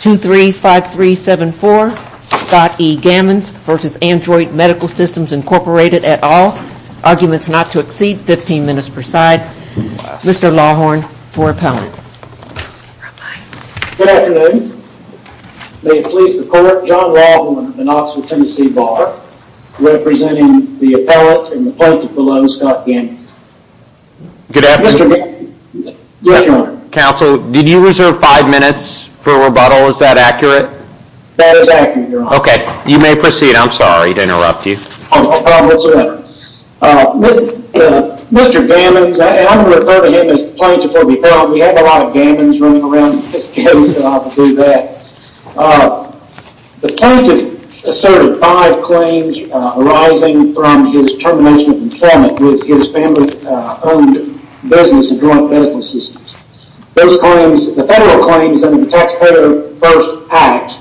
235374 Scott E. Gammons v. Adroit Medical Systems Inc. at all. Arguments not to exceed 15 minutes per side. Mr. Lawhorn for appellant. Good afternoon. May it please the court, John Lawhorn of the Knoxville, Tennessee Bar representing the appellant and the plaintiff below, Scott Gammons. Good afternoon. Yes, your honor. Counsel, did you reserve five minutes for rebuttal? Is that accurate? That is accurate, your honor. Okay, you may proceed. I'm sorry to interrupt you. No problem whatsoever. Mr. Gammons, and I'm going to refer to him as the plaintiff or the appellant. We have a lot of Gammons running around in this case, and I'll do that. The plaintiff asserted five claims arising from his termination of employment with his family-owned business, Adroit Medical Systems. Those claims, the federal claims under the Taxpayer First Act,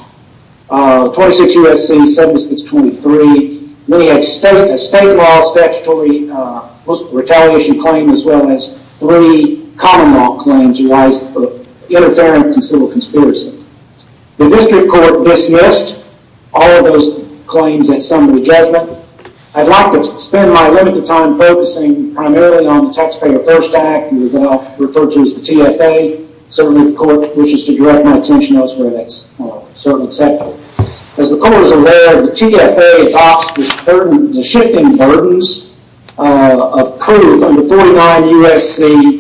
26 U.S.C. 7623. Then he had a state law statutory retaliation claim as well as three common law claims reliant on interference and civil conspiracy. The district court dismissed all of those claims at summary judgment. I'd like to spend my limited time focusing primarily on the Taxpayer First Act, which I'll refer to as the TFA. Certainly, if the court wishes to direct my attention elsewhere, that's certainly acceptable. As the court is aware, the TFA adopts the shifting burdens of proof under 49 U.S.C.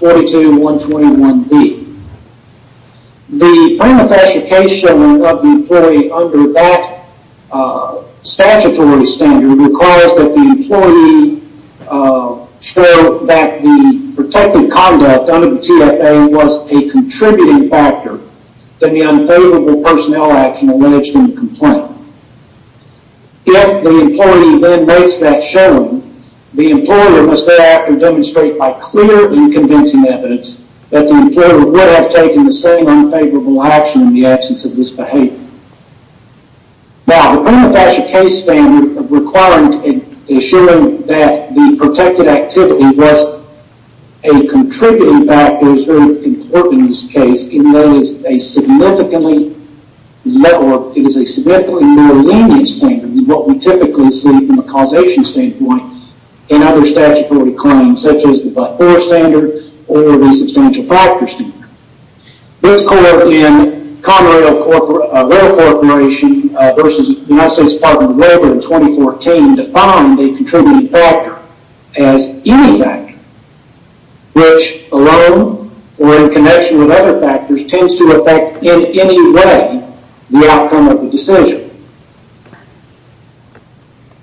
42121B. The prima facie case showing of the employee under that statutory standard requires that the employee show that the protective conduct under the TFA was a contributing factor to the unfavorable personnel action alleged in the complaint. If the employee then makes that show, the employer must thereafter demonstrate by clearly convincing evidence that the employer would have taken the same unfavorable action in the absence of this behavior. Now, the prima facie case standard requiring and assuring that the protected activity was a contributing factor is very important in this case, even though it is a significantly more lenient standard than what we typically see from a causation standpoint in other statutory claims, such as the Blackboard standard or the Substantial Factor standard. This court in Conrail Corporation versus the United States Department of Labor in 2014 defined a contributing factor as any factor which alone or in connection with other factors tends to affect in any way the outcome of the decision.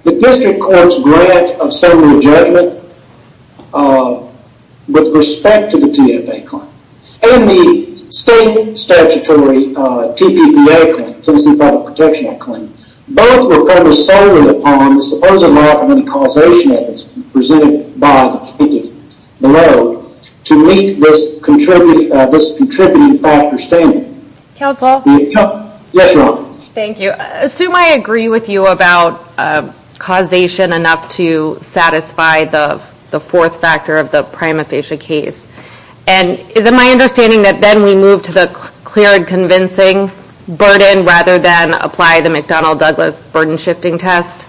The district court's grant of summary judgment with respect to the TFA claim and the state statutory TPPA claim, Tennessee Product Protection Act claim, both were focused solely upon the supposed lack of any causation evidence presented by the plaintiff below to meet this contributing factor standard. Counsel? Yes, Your Honor. Thank you. Assume I agree with you about causation enough to satisfy the fourth factor of the prima facie case. And is it my understanding that then we move to the clear and convincing burden rather than apply the McDonnell-Douglas burden-shifting test?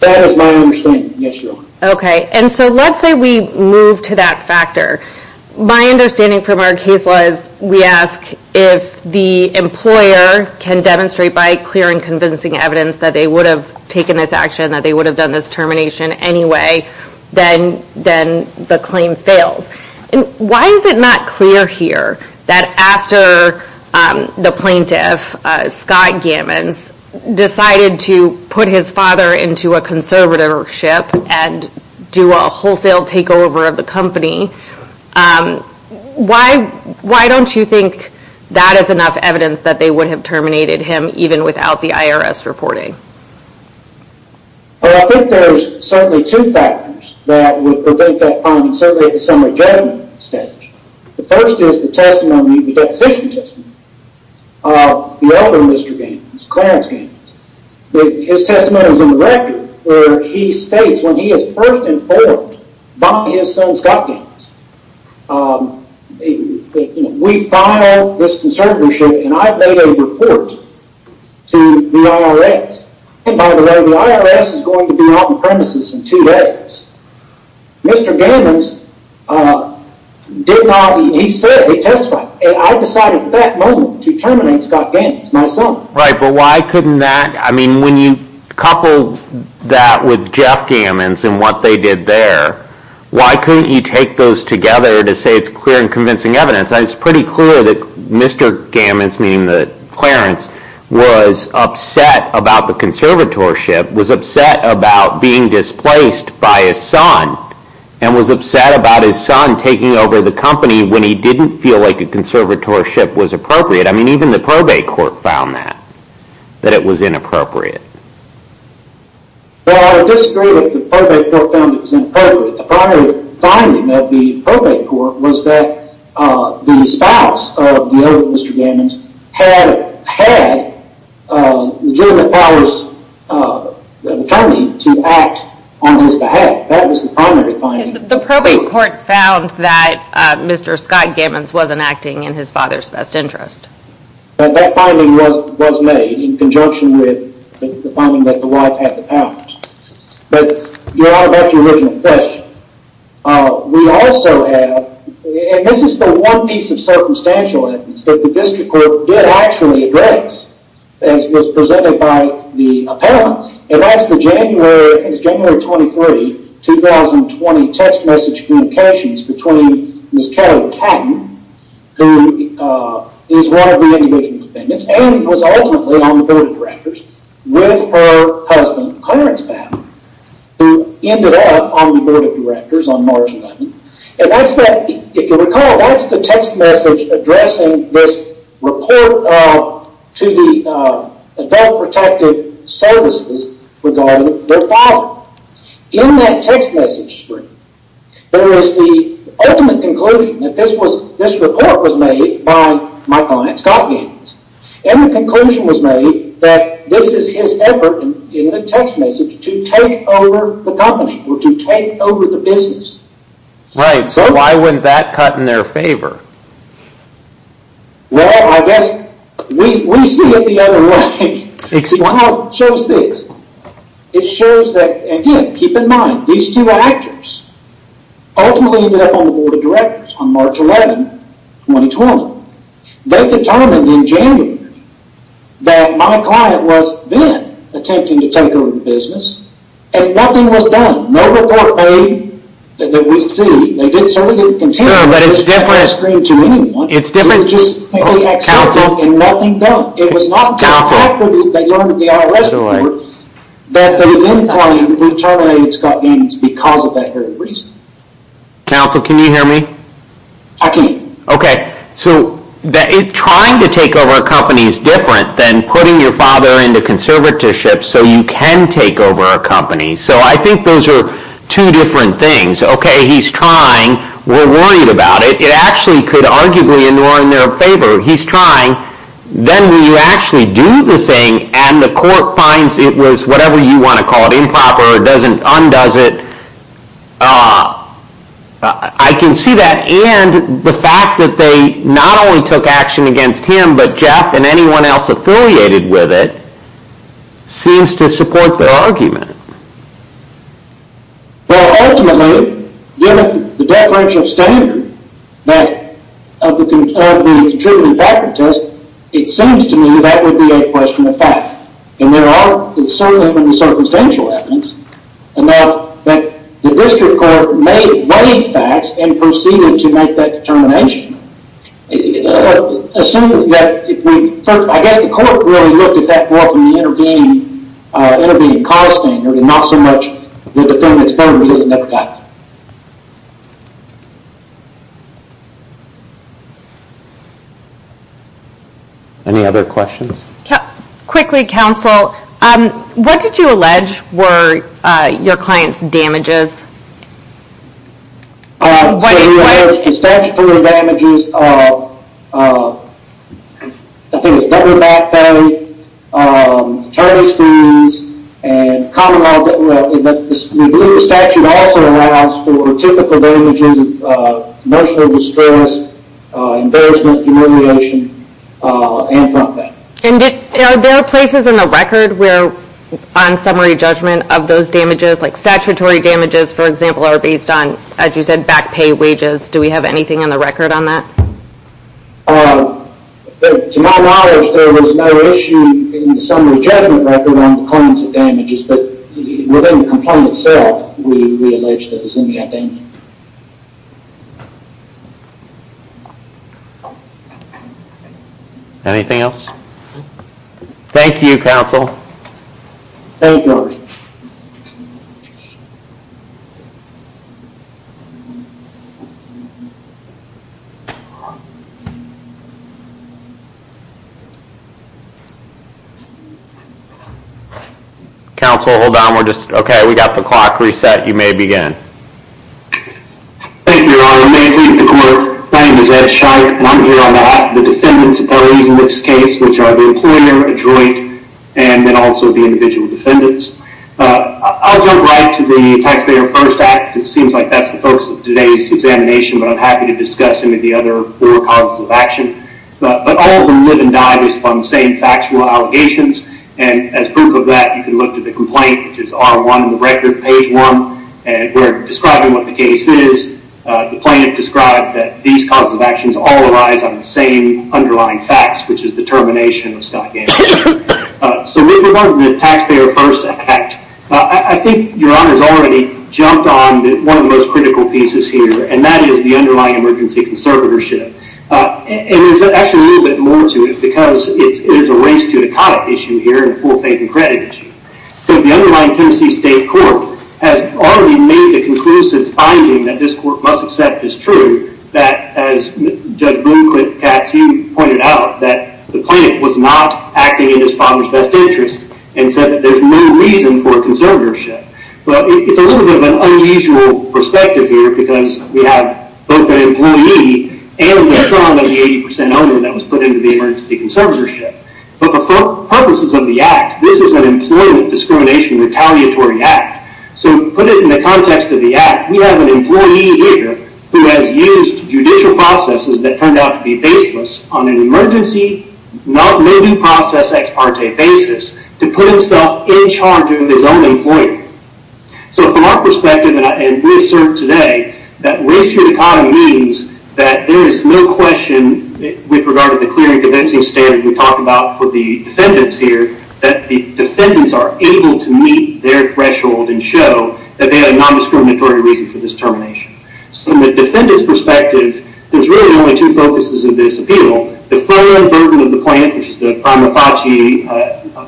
That is my understanding, yes, Your Honor. Okay. And so let's say we move to that factor. My understanding from our case was we ask if the employer can demonstrate by clear and convincing evidence that they would have taken this action, that they would have done this termination anyway, then the claim fails. And why is it not clear here that after the plaintiff, Scott Gammons, decided to put his father into a conservatorship and do a wholesale takeover of the company, why don't you think that is enough evidence that they would have terminated him even without the IRS reporting? Well, I think there's certainly two factors that would prevent that finding, certainly at the summary judgment stage. The first is the testimony, the deposition testimony of the elder Mr. Gammons, Clarence Gammons. His testimony is in the record where he states when he is first informed by his son, Scott Gammons, we file this conservatorship and I've made a report to the IRS. And by the way, the IRS is going to be on premises in two days. Mr. Gammons did not, he said he testified, and I decided at that moment to terminate Scott Gammons, my son. Right, but why couldn't that, I mean when you couple that with Jeff Gammons and what they did there, why couldn't you take those together to say it's clear and convincing evidence? It's pretty clear that Mr. Gammons, meaning that Clarence, was upset about the conservatorship, was upset about being displaced by his son, and was upset about his son taking over the company when he didn't feel like a conservatorship was appropriate. I mean even the probate court found that, that it was inappropriate. Well, I would disagree that the probate court found it was inappropriate. The primary finding of the probate court was that the spouse of the elder Mr. Gammons had legitimate powers of attorney to act on his behalf. That was the primary finding. The probate court found that Mr. Scott Gammons wasn't acting in his father's best interest. That finding was made in conjunction with the finding that the wife had the powers. But you're right about your original question. We also have, and this is the one piece of circumstantial evidence that the district court did actually address, as was presented by the appellant, and that's the January 23, 2020 text message communications between Ms. Kelly Catton, who is one of the individual defendants, and was ultimately on the board of directors, with her husband, Clarence Catton, who ended up on the board of directors on March 11th. If you recall, that's the text message addressing this report to the Adult Protective Services regarding their father. In that text message stream, there is the ultimate conclusion that this report was made by my client Scott Gammons. And the conclusion was made that this is his effort in the text message to take over the company, or to take over the business. Right, so why wouldn't that cut in their favor? Well, I guess we see it the other way. It somehow shows this. It shows that, again, keep in mind, these two actors ultimately ended up on the board of directors on March 11, 2020. They determined in January that my client was then attempting to take over the business, and nothing was done. No report made that we see. They certainly didn't continue this text message stream to anyone. It's different. They just accepted and nothing done. It was not until after they learned of the IRS report that the then client was terminated, Scott Gammons, because of that very reason. Counsel, can you hear me? I can. Okay, so trying to take over a company is different than putting your father into conservatorship so you can take over a company. So I think those are two different things. Okay, he's trying. We're worried about it. It actually could arguably be in their favor. He's trying. Then when you actually do the thing, and the court finds it was whatever you want to call it, improper, or undoes it, I can see that. And the fact that they not only took action against him, but Jeff and anyone else affiliated with it, seems to support their argument. Well, ultimately, given the deferential standard of the contributing factor test, it seems to me that would be a question of fact. And there are so many circumstantial evidence that the district court weighed facts and proceeded to make that determination. I guess the court really looked at that more from the intervening cost standard and not so much the defendant's burden because it never got there. Any other questions? Quickly, counsel. What did you allege were your client's damages? Statutory damages, I think it's double back pay, attorney's fees, and common law. We believe the statute also allows for typical damages, emotional distress, embarrassment, humiliation, and front pay. And are there places in the record where on summary judgment of those damages, like statutory damages, for example, are based on, as you said, back pay wages? Do we have anything on the record on that? To my knowledge, there was no issue in the summary judgment record on the client's damages, but within the complaint itself, we allege that it was in the appendix. Anything else? Thank you, counsel. Thank you. Counsel, hold on. Okay, we've got the clock reset. You may begin. Thank you, Your Honor. May it please the court, my name is Ed Scheich, and I'm here on behalf of the defendant's parties in this case, which are the employer, a joint, and then also the individual defendants. I'll jump right to the Taxpayer First Act. It seems like that's the focus of today's examination, but I'm happy to discuss any of the other four causes of action. But all of them live and die based upon the same factual allegations, and as proof of that, you can look to the complaint, which is R1 in the record, page 1. And we're describing what the case is. The plaintiff described that these causes of actions all relies on the same underlying facts, which is the termination of the stock damages. So moving on to the Taxpayer First Act, I think Your Honor's already jumped on one of the most critical pieces here, and that is the underlying emergency conservatorship. And there's actually a little bit more to it, because it is a race to economic issue here and full faith and credit issue. Because the underlying Tennessee State Court has already made the conclusive finding that this court must accept is true, that as Judge Bloom-Katz, you pointed out, that the plaintiff was not acting in his father's best interest and said that there's no reason for conservatorship. Well, it's a little bit of an unusual perspective here, because we have both an employee and a strong 80% owner that was put into the emergency conservatorship. But for purposes of the act, this is an employment discrimination retaliatory act. So put it in the context of the act, we have an employee here who has used judicial processes that turned out to be baseless on an emergency, not living process, ex parte basis to put himself in charge of his own employment. So from our perspective, and we assert today, that race to economy means that there is no question, with regard to the clear and convincing standard we talked about for the defendants here, that the defendants are able to meet their threshold and show that they have a non-discriminatory reason for this termination. So from the defendant's perspective, there's really only two focuses of this appeal. The full unburden of the plaintiff, which is the prima facie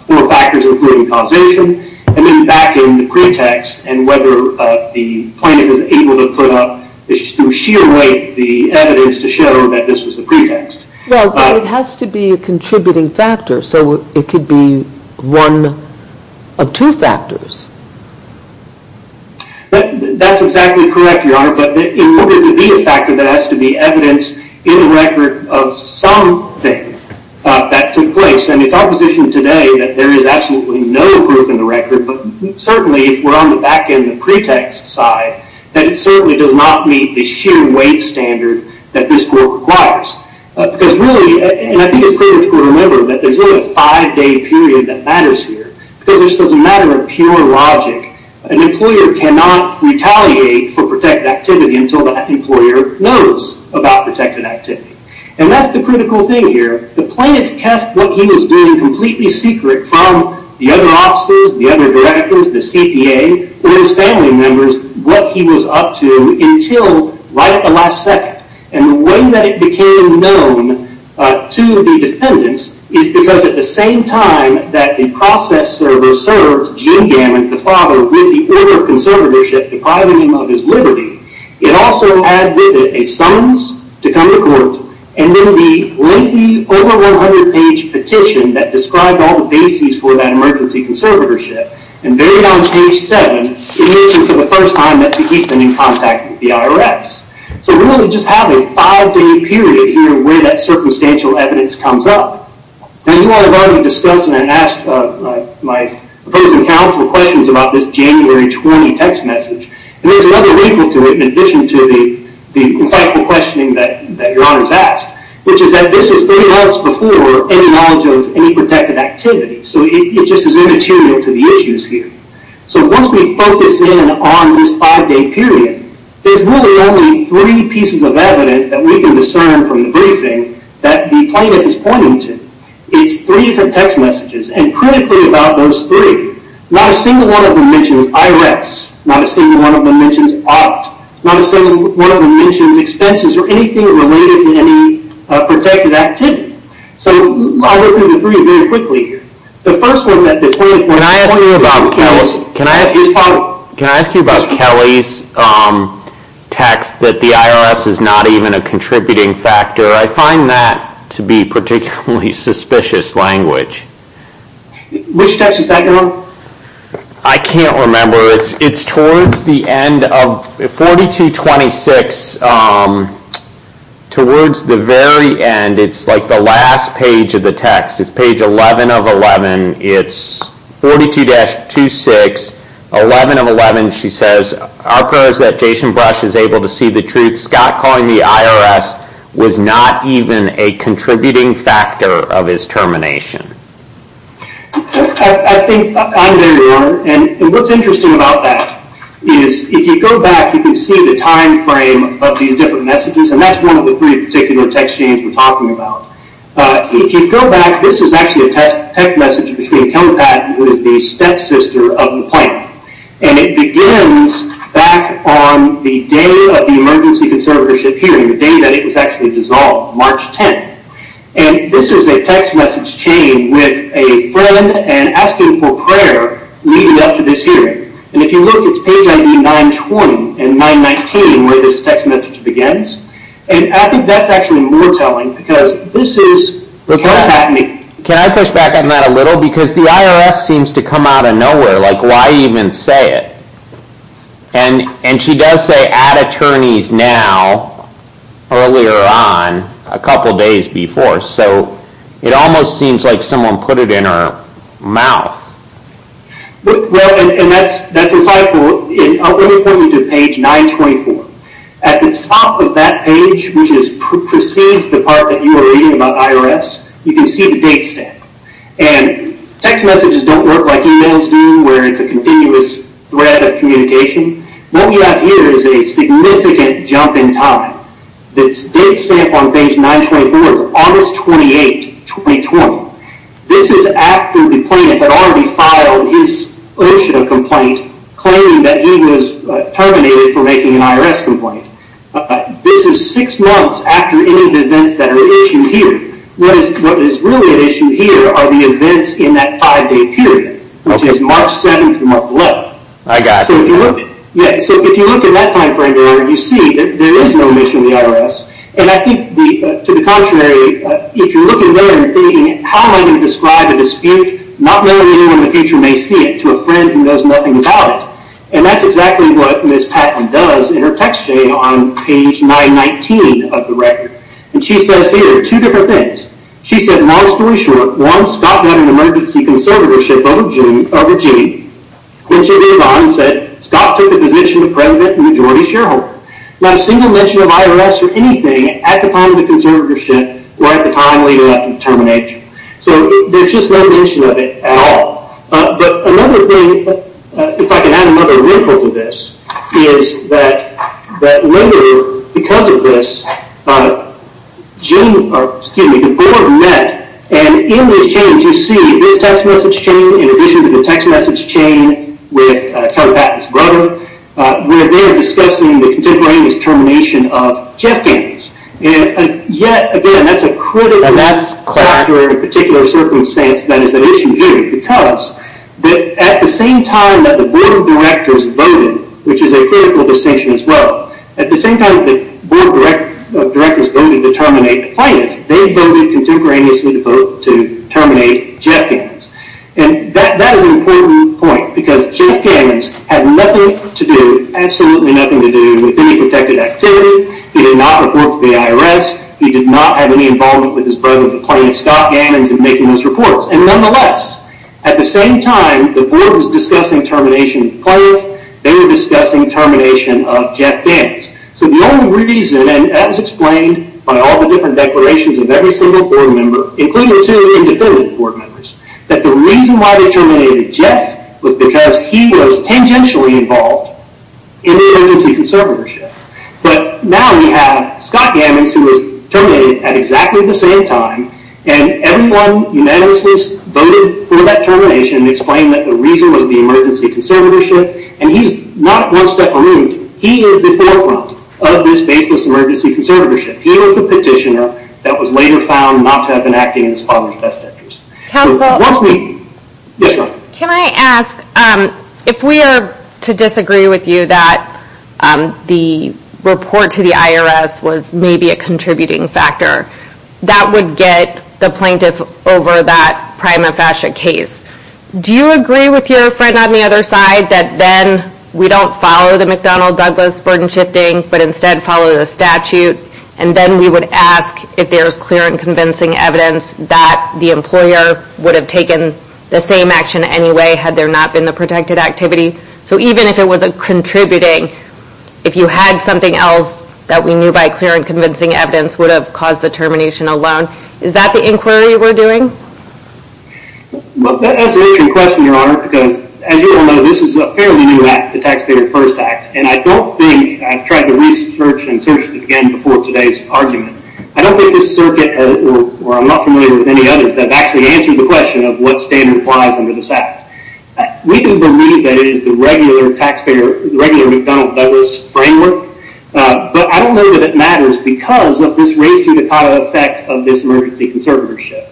four factors, including causation, and then back in the pretext and whether the plaintiff is able to put up, through sheer weight, the evidence to show that this was the pretext. Well, but it has to be a contributing factor, so it could be one of two factors. That's exactly correct, Your Honor, but in order to be a factor, there has to be evidence in the record of something that took place. And it's our position today that there is absolutely no proof in the record, but certainly if we're on the back end of the pretext side, that it certainly does not meet the sheer weight standard that this court requires. Because really, and I think it's critical to remember that there's really a five day period that matters here. Because this is a matter of pure logic. An employer cannot retaliate for protected activity until that employer knows about protected activity. And that's the critical thing here. The plaintiff kept what he was doing completely secret from the other officers, the other directors, the CPA, or his family members, what he was up to until right at the last second. And the way that it became known to the defendants is because at the same time that the process server served Gene Gammons, the father, with the order of conservatorship depriving him of his liberty, it also had with it a summons to come to court, and then the lengthy, over 100 page petition that described all the bases for that emergency conservatorship. And very on page seven, it mentioned for the first time that to keep them in contact with the IRS. So we really just have a five day period here where that circumstantial evidence comes up. And you all have already discussed and asked my opposing counsel questions about this January 20 text message. And there's another equal to it in addition to the insightful questioning that your honors asked, which is that this is 30 hours before any knowledge of any protected activity. So it just is immaterial to the issues here. So once we focus in on this five day period, there's really only three pieces of evidence that we can discern from the briefing that the plaintiff is pointing to. It's three different text messages. And critically about those three, not a single one of them mentions IRS. Not a single one of them mentions OPT. Not a single one of them mentions expenses or anything related to any protected activity. So I'll go through the three very quickly here. When I ask you about Kelly's text that the IRS is not even a contributing factor, I find that to be particularly suspicious language. Which text is that going on? I can't remember. It's towards the end of 4226, towards the very end. It's like the last page of the text. It's page 11 of 11. It's 42-26, 11 of 11. She says, our pros that Jason Brush is able to see the truth. Scott calling the IRS was not even a contributing factor of his termination. I think I'm there, your honor. And what's interesting about that is if you go back, you can see the time frame of these different messages. And that's one of the three particular text chains we're talking about. If you go back, this is actually a text message between Kelly Patton, who is the stepsister of the plaintiff. And it begins back on the day of the emergency conservatorship hearing, the day that it was actually dissolved, March 10th. And this is a text message chain with a friend and asking for prayer leading up to this hearing. And if you look, it's page ID 920 and 919 where this text message begins. And I think that's actually more telling because this is Kelly Patton. Can I push back on that a little? Because the IRS seems to come out of nowhere. Like why even say it? And she does say, add attorneys now, earlier on, a couple days before. So it almost seems like someone put it in her mouth. Well, and that's insightful. Let me point you to page 924. At the top of that page, which precedes the part that you are reading about IRS, you can see the date stamp. And text messages don't work like emails do where it's a continuous thread of communication. What we have here is a significant jump in time. This date stamp on page 924 is August 28, 2020. This is after the plaintiff had already filed his initial complaint claiming that he was terminated for making an IRS complaint. This is six months after any of the events that are issued here. What is really at issue here are the events in that five-day period, which is March 7th through March 11th. I got you. So if you look at that time frame there, you see that there is no mention of the IRS. And I think, to the contrary, if you look at there and think, how am I going to describe a dispute, not knowing anyone in the future may see it, to a friend who knows nothing about it. And that's exactly what Ms. Patton does in her text chain on page 919 of the record. And she says here two different things. She said, long story short, one, Scott had an emergency conservatorship over Gene. Then she goes on and said, Scott took a position of president and majority shareholder. Not a single mention of IRS or anything at the time of the conservatorship or at the time when he left for termination. So there's just no mention of it at all. But another thing, if I can add another wrinkle to this, is that later, because of this, the board met. And in this change, you see this text message chain, in addition to the text message chain with Terry Patton's brother, where they're discussing the contemporaneous termination of Jeff Gaines. And yet, again, that's a critical character in a particular circumstance that is an issue here because at the same time that the board of directors voted, which is a critical distinction as well, at the same time that the board of directors voted to terminate the plaintiffs, they voted contemporaneously to terminate Jeff Gaines. And that is an important point because Jeff Gaines had nothing to do, absolutely nothing to do, with any protected activity. He did not report to the IRS. He did not have any involvement with his brother, the plaintiff, Scott Gaines, in making those reports. And nonetheless, at the same time the board was discussing termination of the plaintiffs, they were discussing termination of Jeff Gaines. So the only reason, and that was explained by all the different declarations of every single board member, including the two independent board members, that the reason why they terminated Jeff was because he was tangentially involved in the emergency conservatorship. But now we have Scott Gaines, who was terminated at exactly the same time, and everyone unanimously voted for that termination and explained that the reason was the emergency conservatorship. And he's not one step removed. He is the forefront of this baseless emergency conservatorship. He was the petitioner that was later found not to have been acting in his father's best interest. So once again, yes ma'am. Can I ask, if we are to disagree with you that the report to the IRS was maybe a contributing factor, that would get the plaintiff over that prima facie case, do you agree with your friend on the other side that then we don't follow the McDonnell-Douglas burden shifting, but instead follow the statute, and then we would ask if there's clear and convincing evidence that the employer would have taken the same action anyway had there not been the protected activity? So even if it wasn't contributing, if you had something else that we knew by clear and convincing evidence would have caused the termination alone, is that the inquiry we're doing? Well, that's an interesting question, Your Honor, because as you all know, this is a fairly new act, the Taxpayer First Act, and I don't think, I've tried to research and search it again before today's argument, I don't think this circuit, or I'm not familiar with any others, have actually answered the question of what standard applies under this act. We do believe that it is the regular McDonnell-Douglas framework, but I don't know that it matters because of this race to Dakota effect of this emergency conservatorship.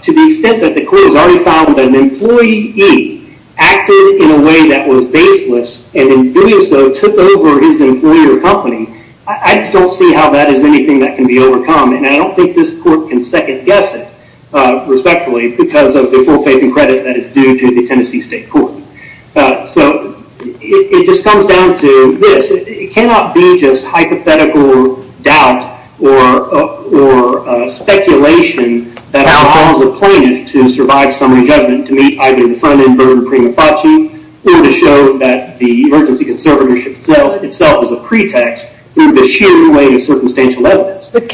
To the extent that the court has already found that an employee acted in a way that was baseless, and in doing so took over his employer company, I just don't see how that is anything that can be overcome, and I don't think this court can second guess it, respectfully, because of the full faith and credit that is due to the Tennessee State Court. So, it just comes down to this, it cannot be just hypothetical doubt or speculation that will cause a plaintiff to survive summary judgment to meet either the front-end burden prima facie, or to show that the emergency conservatorship itself is a pretext for the sheer weight of circumstantial evidence. I'm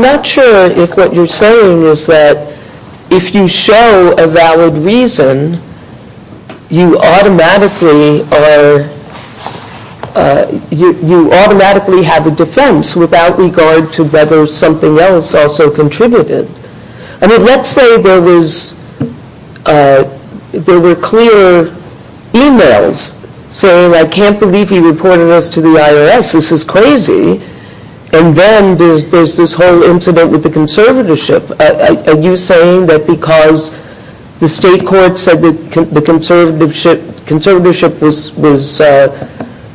not sure if what you're saying is that if you show a valid reason, you automatically have a defense without regard to whether something else also contributed. I mean, let's say there were clear emails saying, I can't believe he reported us to the IRS, this is crazy, and then there's this whole incident with the conservatorship. Are you saying that because the state court said that the conservatorship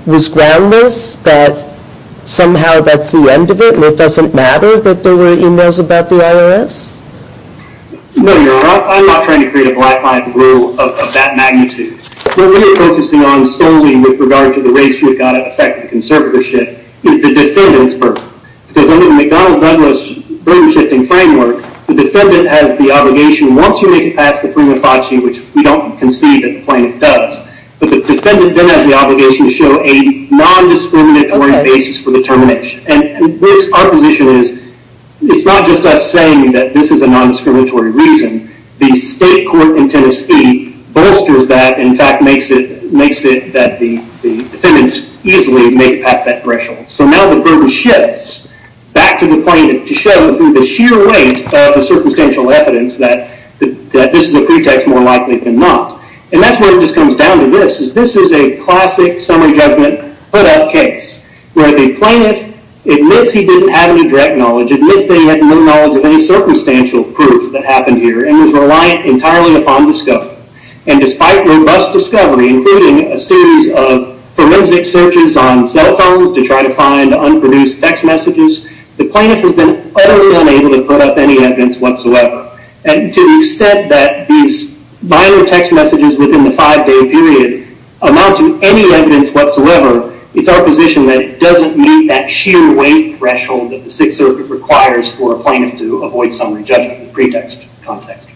was groundless, that somehow that's the end of it, and it doesn't matter that there were emails about the IRS? No, Your Honor, I'm not trying to create a black-line rule of that magnitude. What we're focusing on solely with regard to the race you've got to affect the conservatorship is the defendant's burden. Because under the McDonnell-Douglas burden-shifting framework, the defendant has the obligation, once you make it past the prima facie, which we don't concede that the plaintiff does, but the defendant then has the obligation to show a non-discriminatory basis for the termination. And our position is, it's not just us saying that this is a non-discriminatory reason. The state court in Tennessee bolsters that, and in fact makes it that the defendants easily make it past that threshold. So now the burden shifts back to the plaintiff to show through the sheer weight of the circumstantial evidence that this is a pretext more likely than not. And that's where it just comes down to this. This is a classic summary judgment put-up case where the plaintiff admits he didn't have any direct knowledge, admits that he had no knowledge of any circumstantial proof that happened here, and is reliant entirely upon discovery. And despite robust discovery, including a series of forensic searches on cell phones to try to find unproduced text messages, the plaintiff has been utterly unable to put up any evidence whatsoever. And to the extent that these minor text messages within the five-day period amount to any evidence whatsoever, it's our position that it doesn't meet that sheer weight threshold that the Sixth Circuit requires for a plaintiff to avoid summary judgment in the pretext context.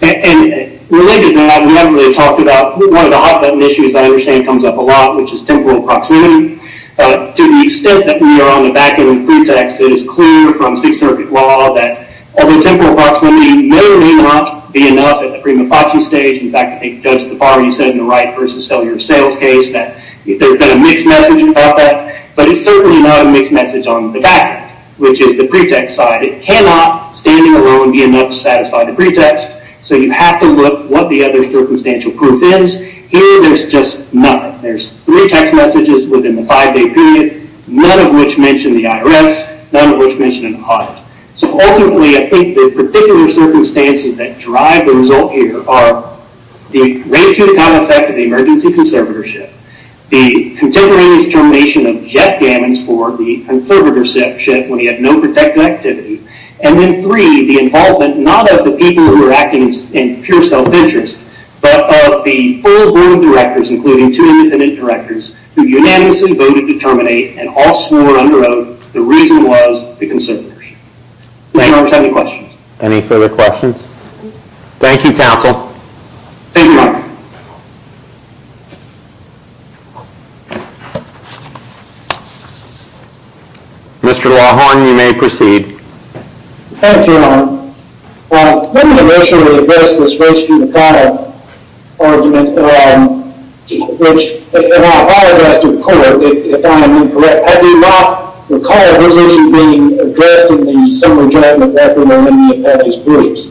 And related to that, we haven't really talked about, one of the hot-button issues I understand comes up a lot, which is temporal proximity. To the extent that we are on the back end of pretext, it is clear from Sixth Circuit law that temporal proximity may or may not be enough at the prima facie stage. In fact, I think Judge Tafari said in the right versus cellular sales case that there's been a mixed message about that. But it's certainly not a mixed message on the back end, which is the pretext side. It cannot, standing alone, be enough to satisfy the pretext. So you have to look what the other circumstantial proof is. Here, there's just none. There's three text messages within the five-day period, none of which mention the IRS, none of which mention an audit. So ultimately, I think the particular circumstances that drive the result here are the way-too-kind effect of the emergency conservatorship, the contemporaneous termination of Jeff Gammons for the conservatorship when he had no protective activity, and then three, the involvement not of the people who were acting in pure self-interest, but of the full board of directors, including two independent directors, who unanimously voted to terminate and all swore under oath that the reason was the conservatorship. Thank you very much. Any questions? Any further questions? Thank you, counsel. Thank you, Your Honor. Mr. Lawhorn, you may proceed. Thank you, Your Honor. When the motion was addressed, it was raised through the panel argument, which in our high-adjusted court, if I am incorrect, I do not recall this issue being addressed in the summary judgment record or in any of Patrick's briefs.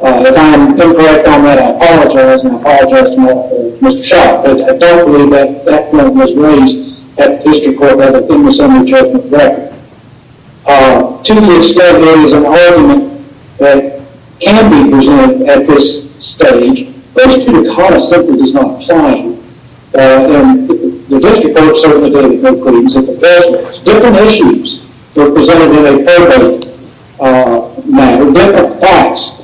If I am incorrect on that, I apologize, and I apologize to Mr. Shaw, but I don't believe that that point was raised at the district court that it was in the summary judgment record. To the extent there is an argument that can be presented at this stage, those two concepts are just not playing, and the district court certainly didn't include these at the first place. Different issues were presented in a probate matter. Different facts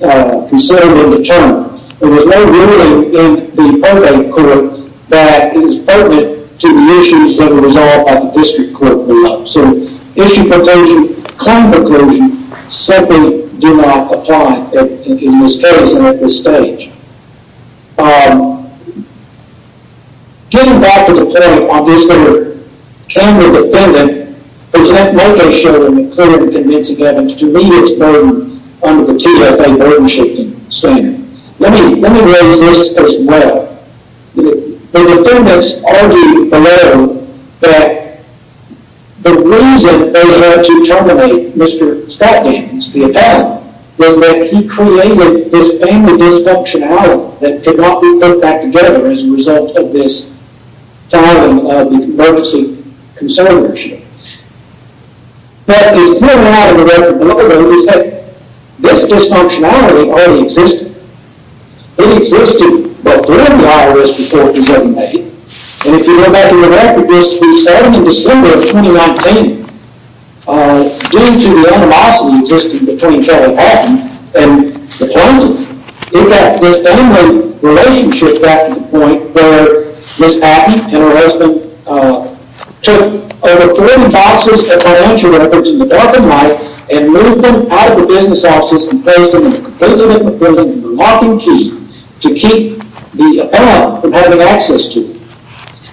were considered in the term. There was no ruling in the probate court that is pertinent to the issues that were resolved by the district court below. So issue preclusion, claim preclusion, simply do not apply in this case at this stage. Getting back to the point on this, there came the defendant, but yet no case showed him that clearly convincing evidence to meet its burden under the TFA burden-shifting standard. Let me raise this as well. The defendants argued below that the reason they had to terminate Mr. Scott Gaines, the adult, was that he created this family dysfunctionality that could not be put back together as a result of this filing of the emergency concern issue. What is clear now in the record below, though, is that this dysfunctionality already existed. It existed both during the IRS report in 2008, and if you go back in the record, this was starting in December of 2019. Due to the animosity existing between Charlie Hawthorne and the plaintiff, in fact, this family relationship got to the point where Ms. Patton and her husband took over 40 boxes of financial records in the dark and light and moved them out of the business offices and placed them in a completely different building with a locking key to keep the appellant from having access to them.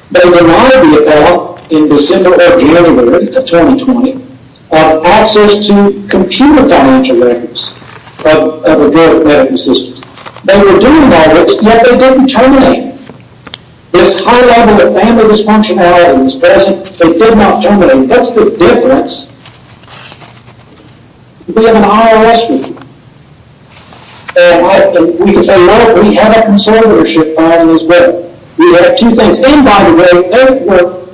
They denied the appellant in December or January of 2020 access to computer financial records of a group of medical assistants. They were doing that, yet they didn't terminate it. This high level of family dysfunctionality that was present, they did not terminate it. That's the difference. We have an IRS report. And we can say, look, we have a conservatorship filing as well. We have two things. And by the way, they were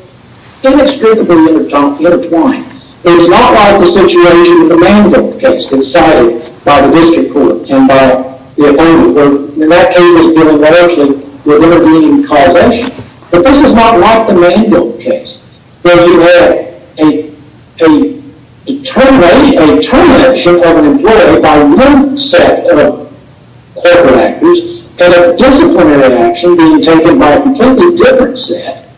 inextricably intertwined. It was not like the situation in the Randolph case decided by the district court and by the appellant, where that case was dealing largely with intervening causation. But this is not like the Randolph case, where you had a termination of an employee by one set of corporate actors and a disciplinary action being taken by a completely different set,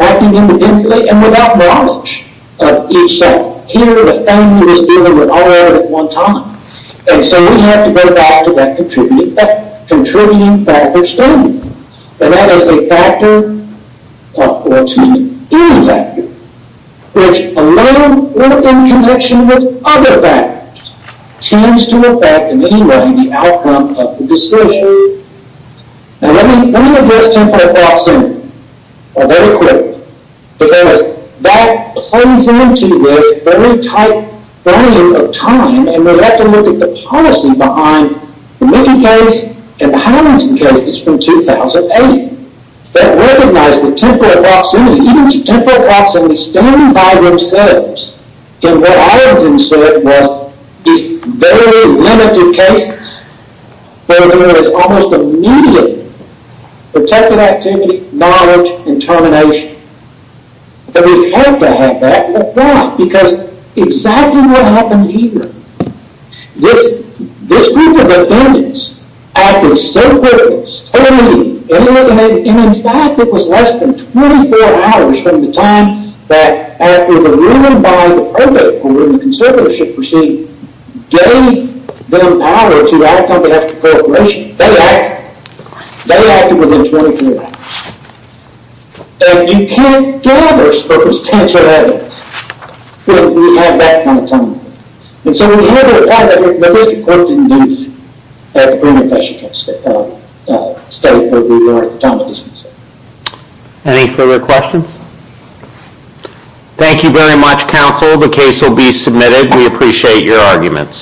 acting independently and without knowledge of each side. Here, the family was dealing with all of it at one time. And so we have to go back to that contributing factor standing. And that is a factor, or to me, any factor, which alone, or in connection with other factors, tends to affect, in any way, the outcome of the discussion. Now, let me address temporary fraud simply, or very quickly. Because that plays into this very tight frame of time. And we have to look at the policy behind the Mickey case and the Hamilton case that's from 2008. That recognized that temporary fraud simply, even temporary fraud simply, stand by themselves. And what I would insert was these very limited cases where there is almost immediate protected activity, knowledge, and termination. And we've had to have that. But why? Because exactly what happened here, this group of defendants acted so quickly, so immediately, and in fact, it was less than 24 hours from the time that after the ruling by the Provo Court and the conservatorship proceeding, gave them power to act on behalf of the corporation. They acted. They acted within 24 hours. And you can't do that on purpose, tense your evidence, if you have that kind of time. And so we had to apply that. The District Court didn't do that. The Green Act, I should say, studied where we were at the time of the dismissal. Any further questions? Thank you very much, counsel. The case will be submitted. We appreciate your arguments.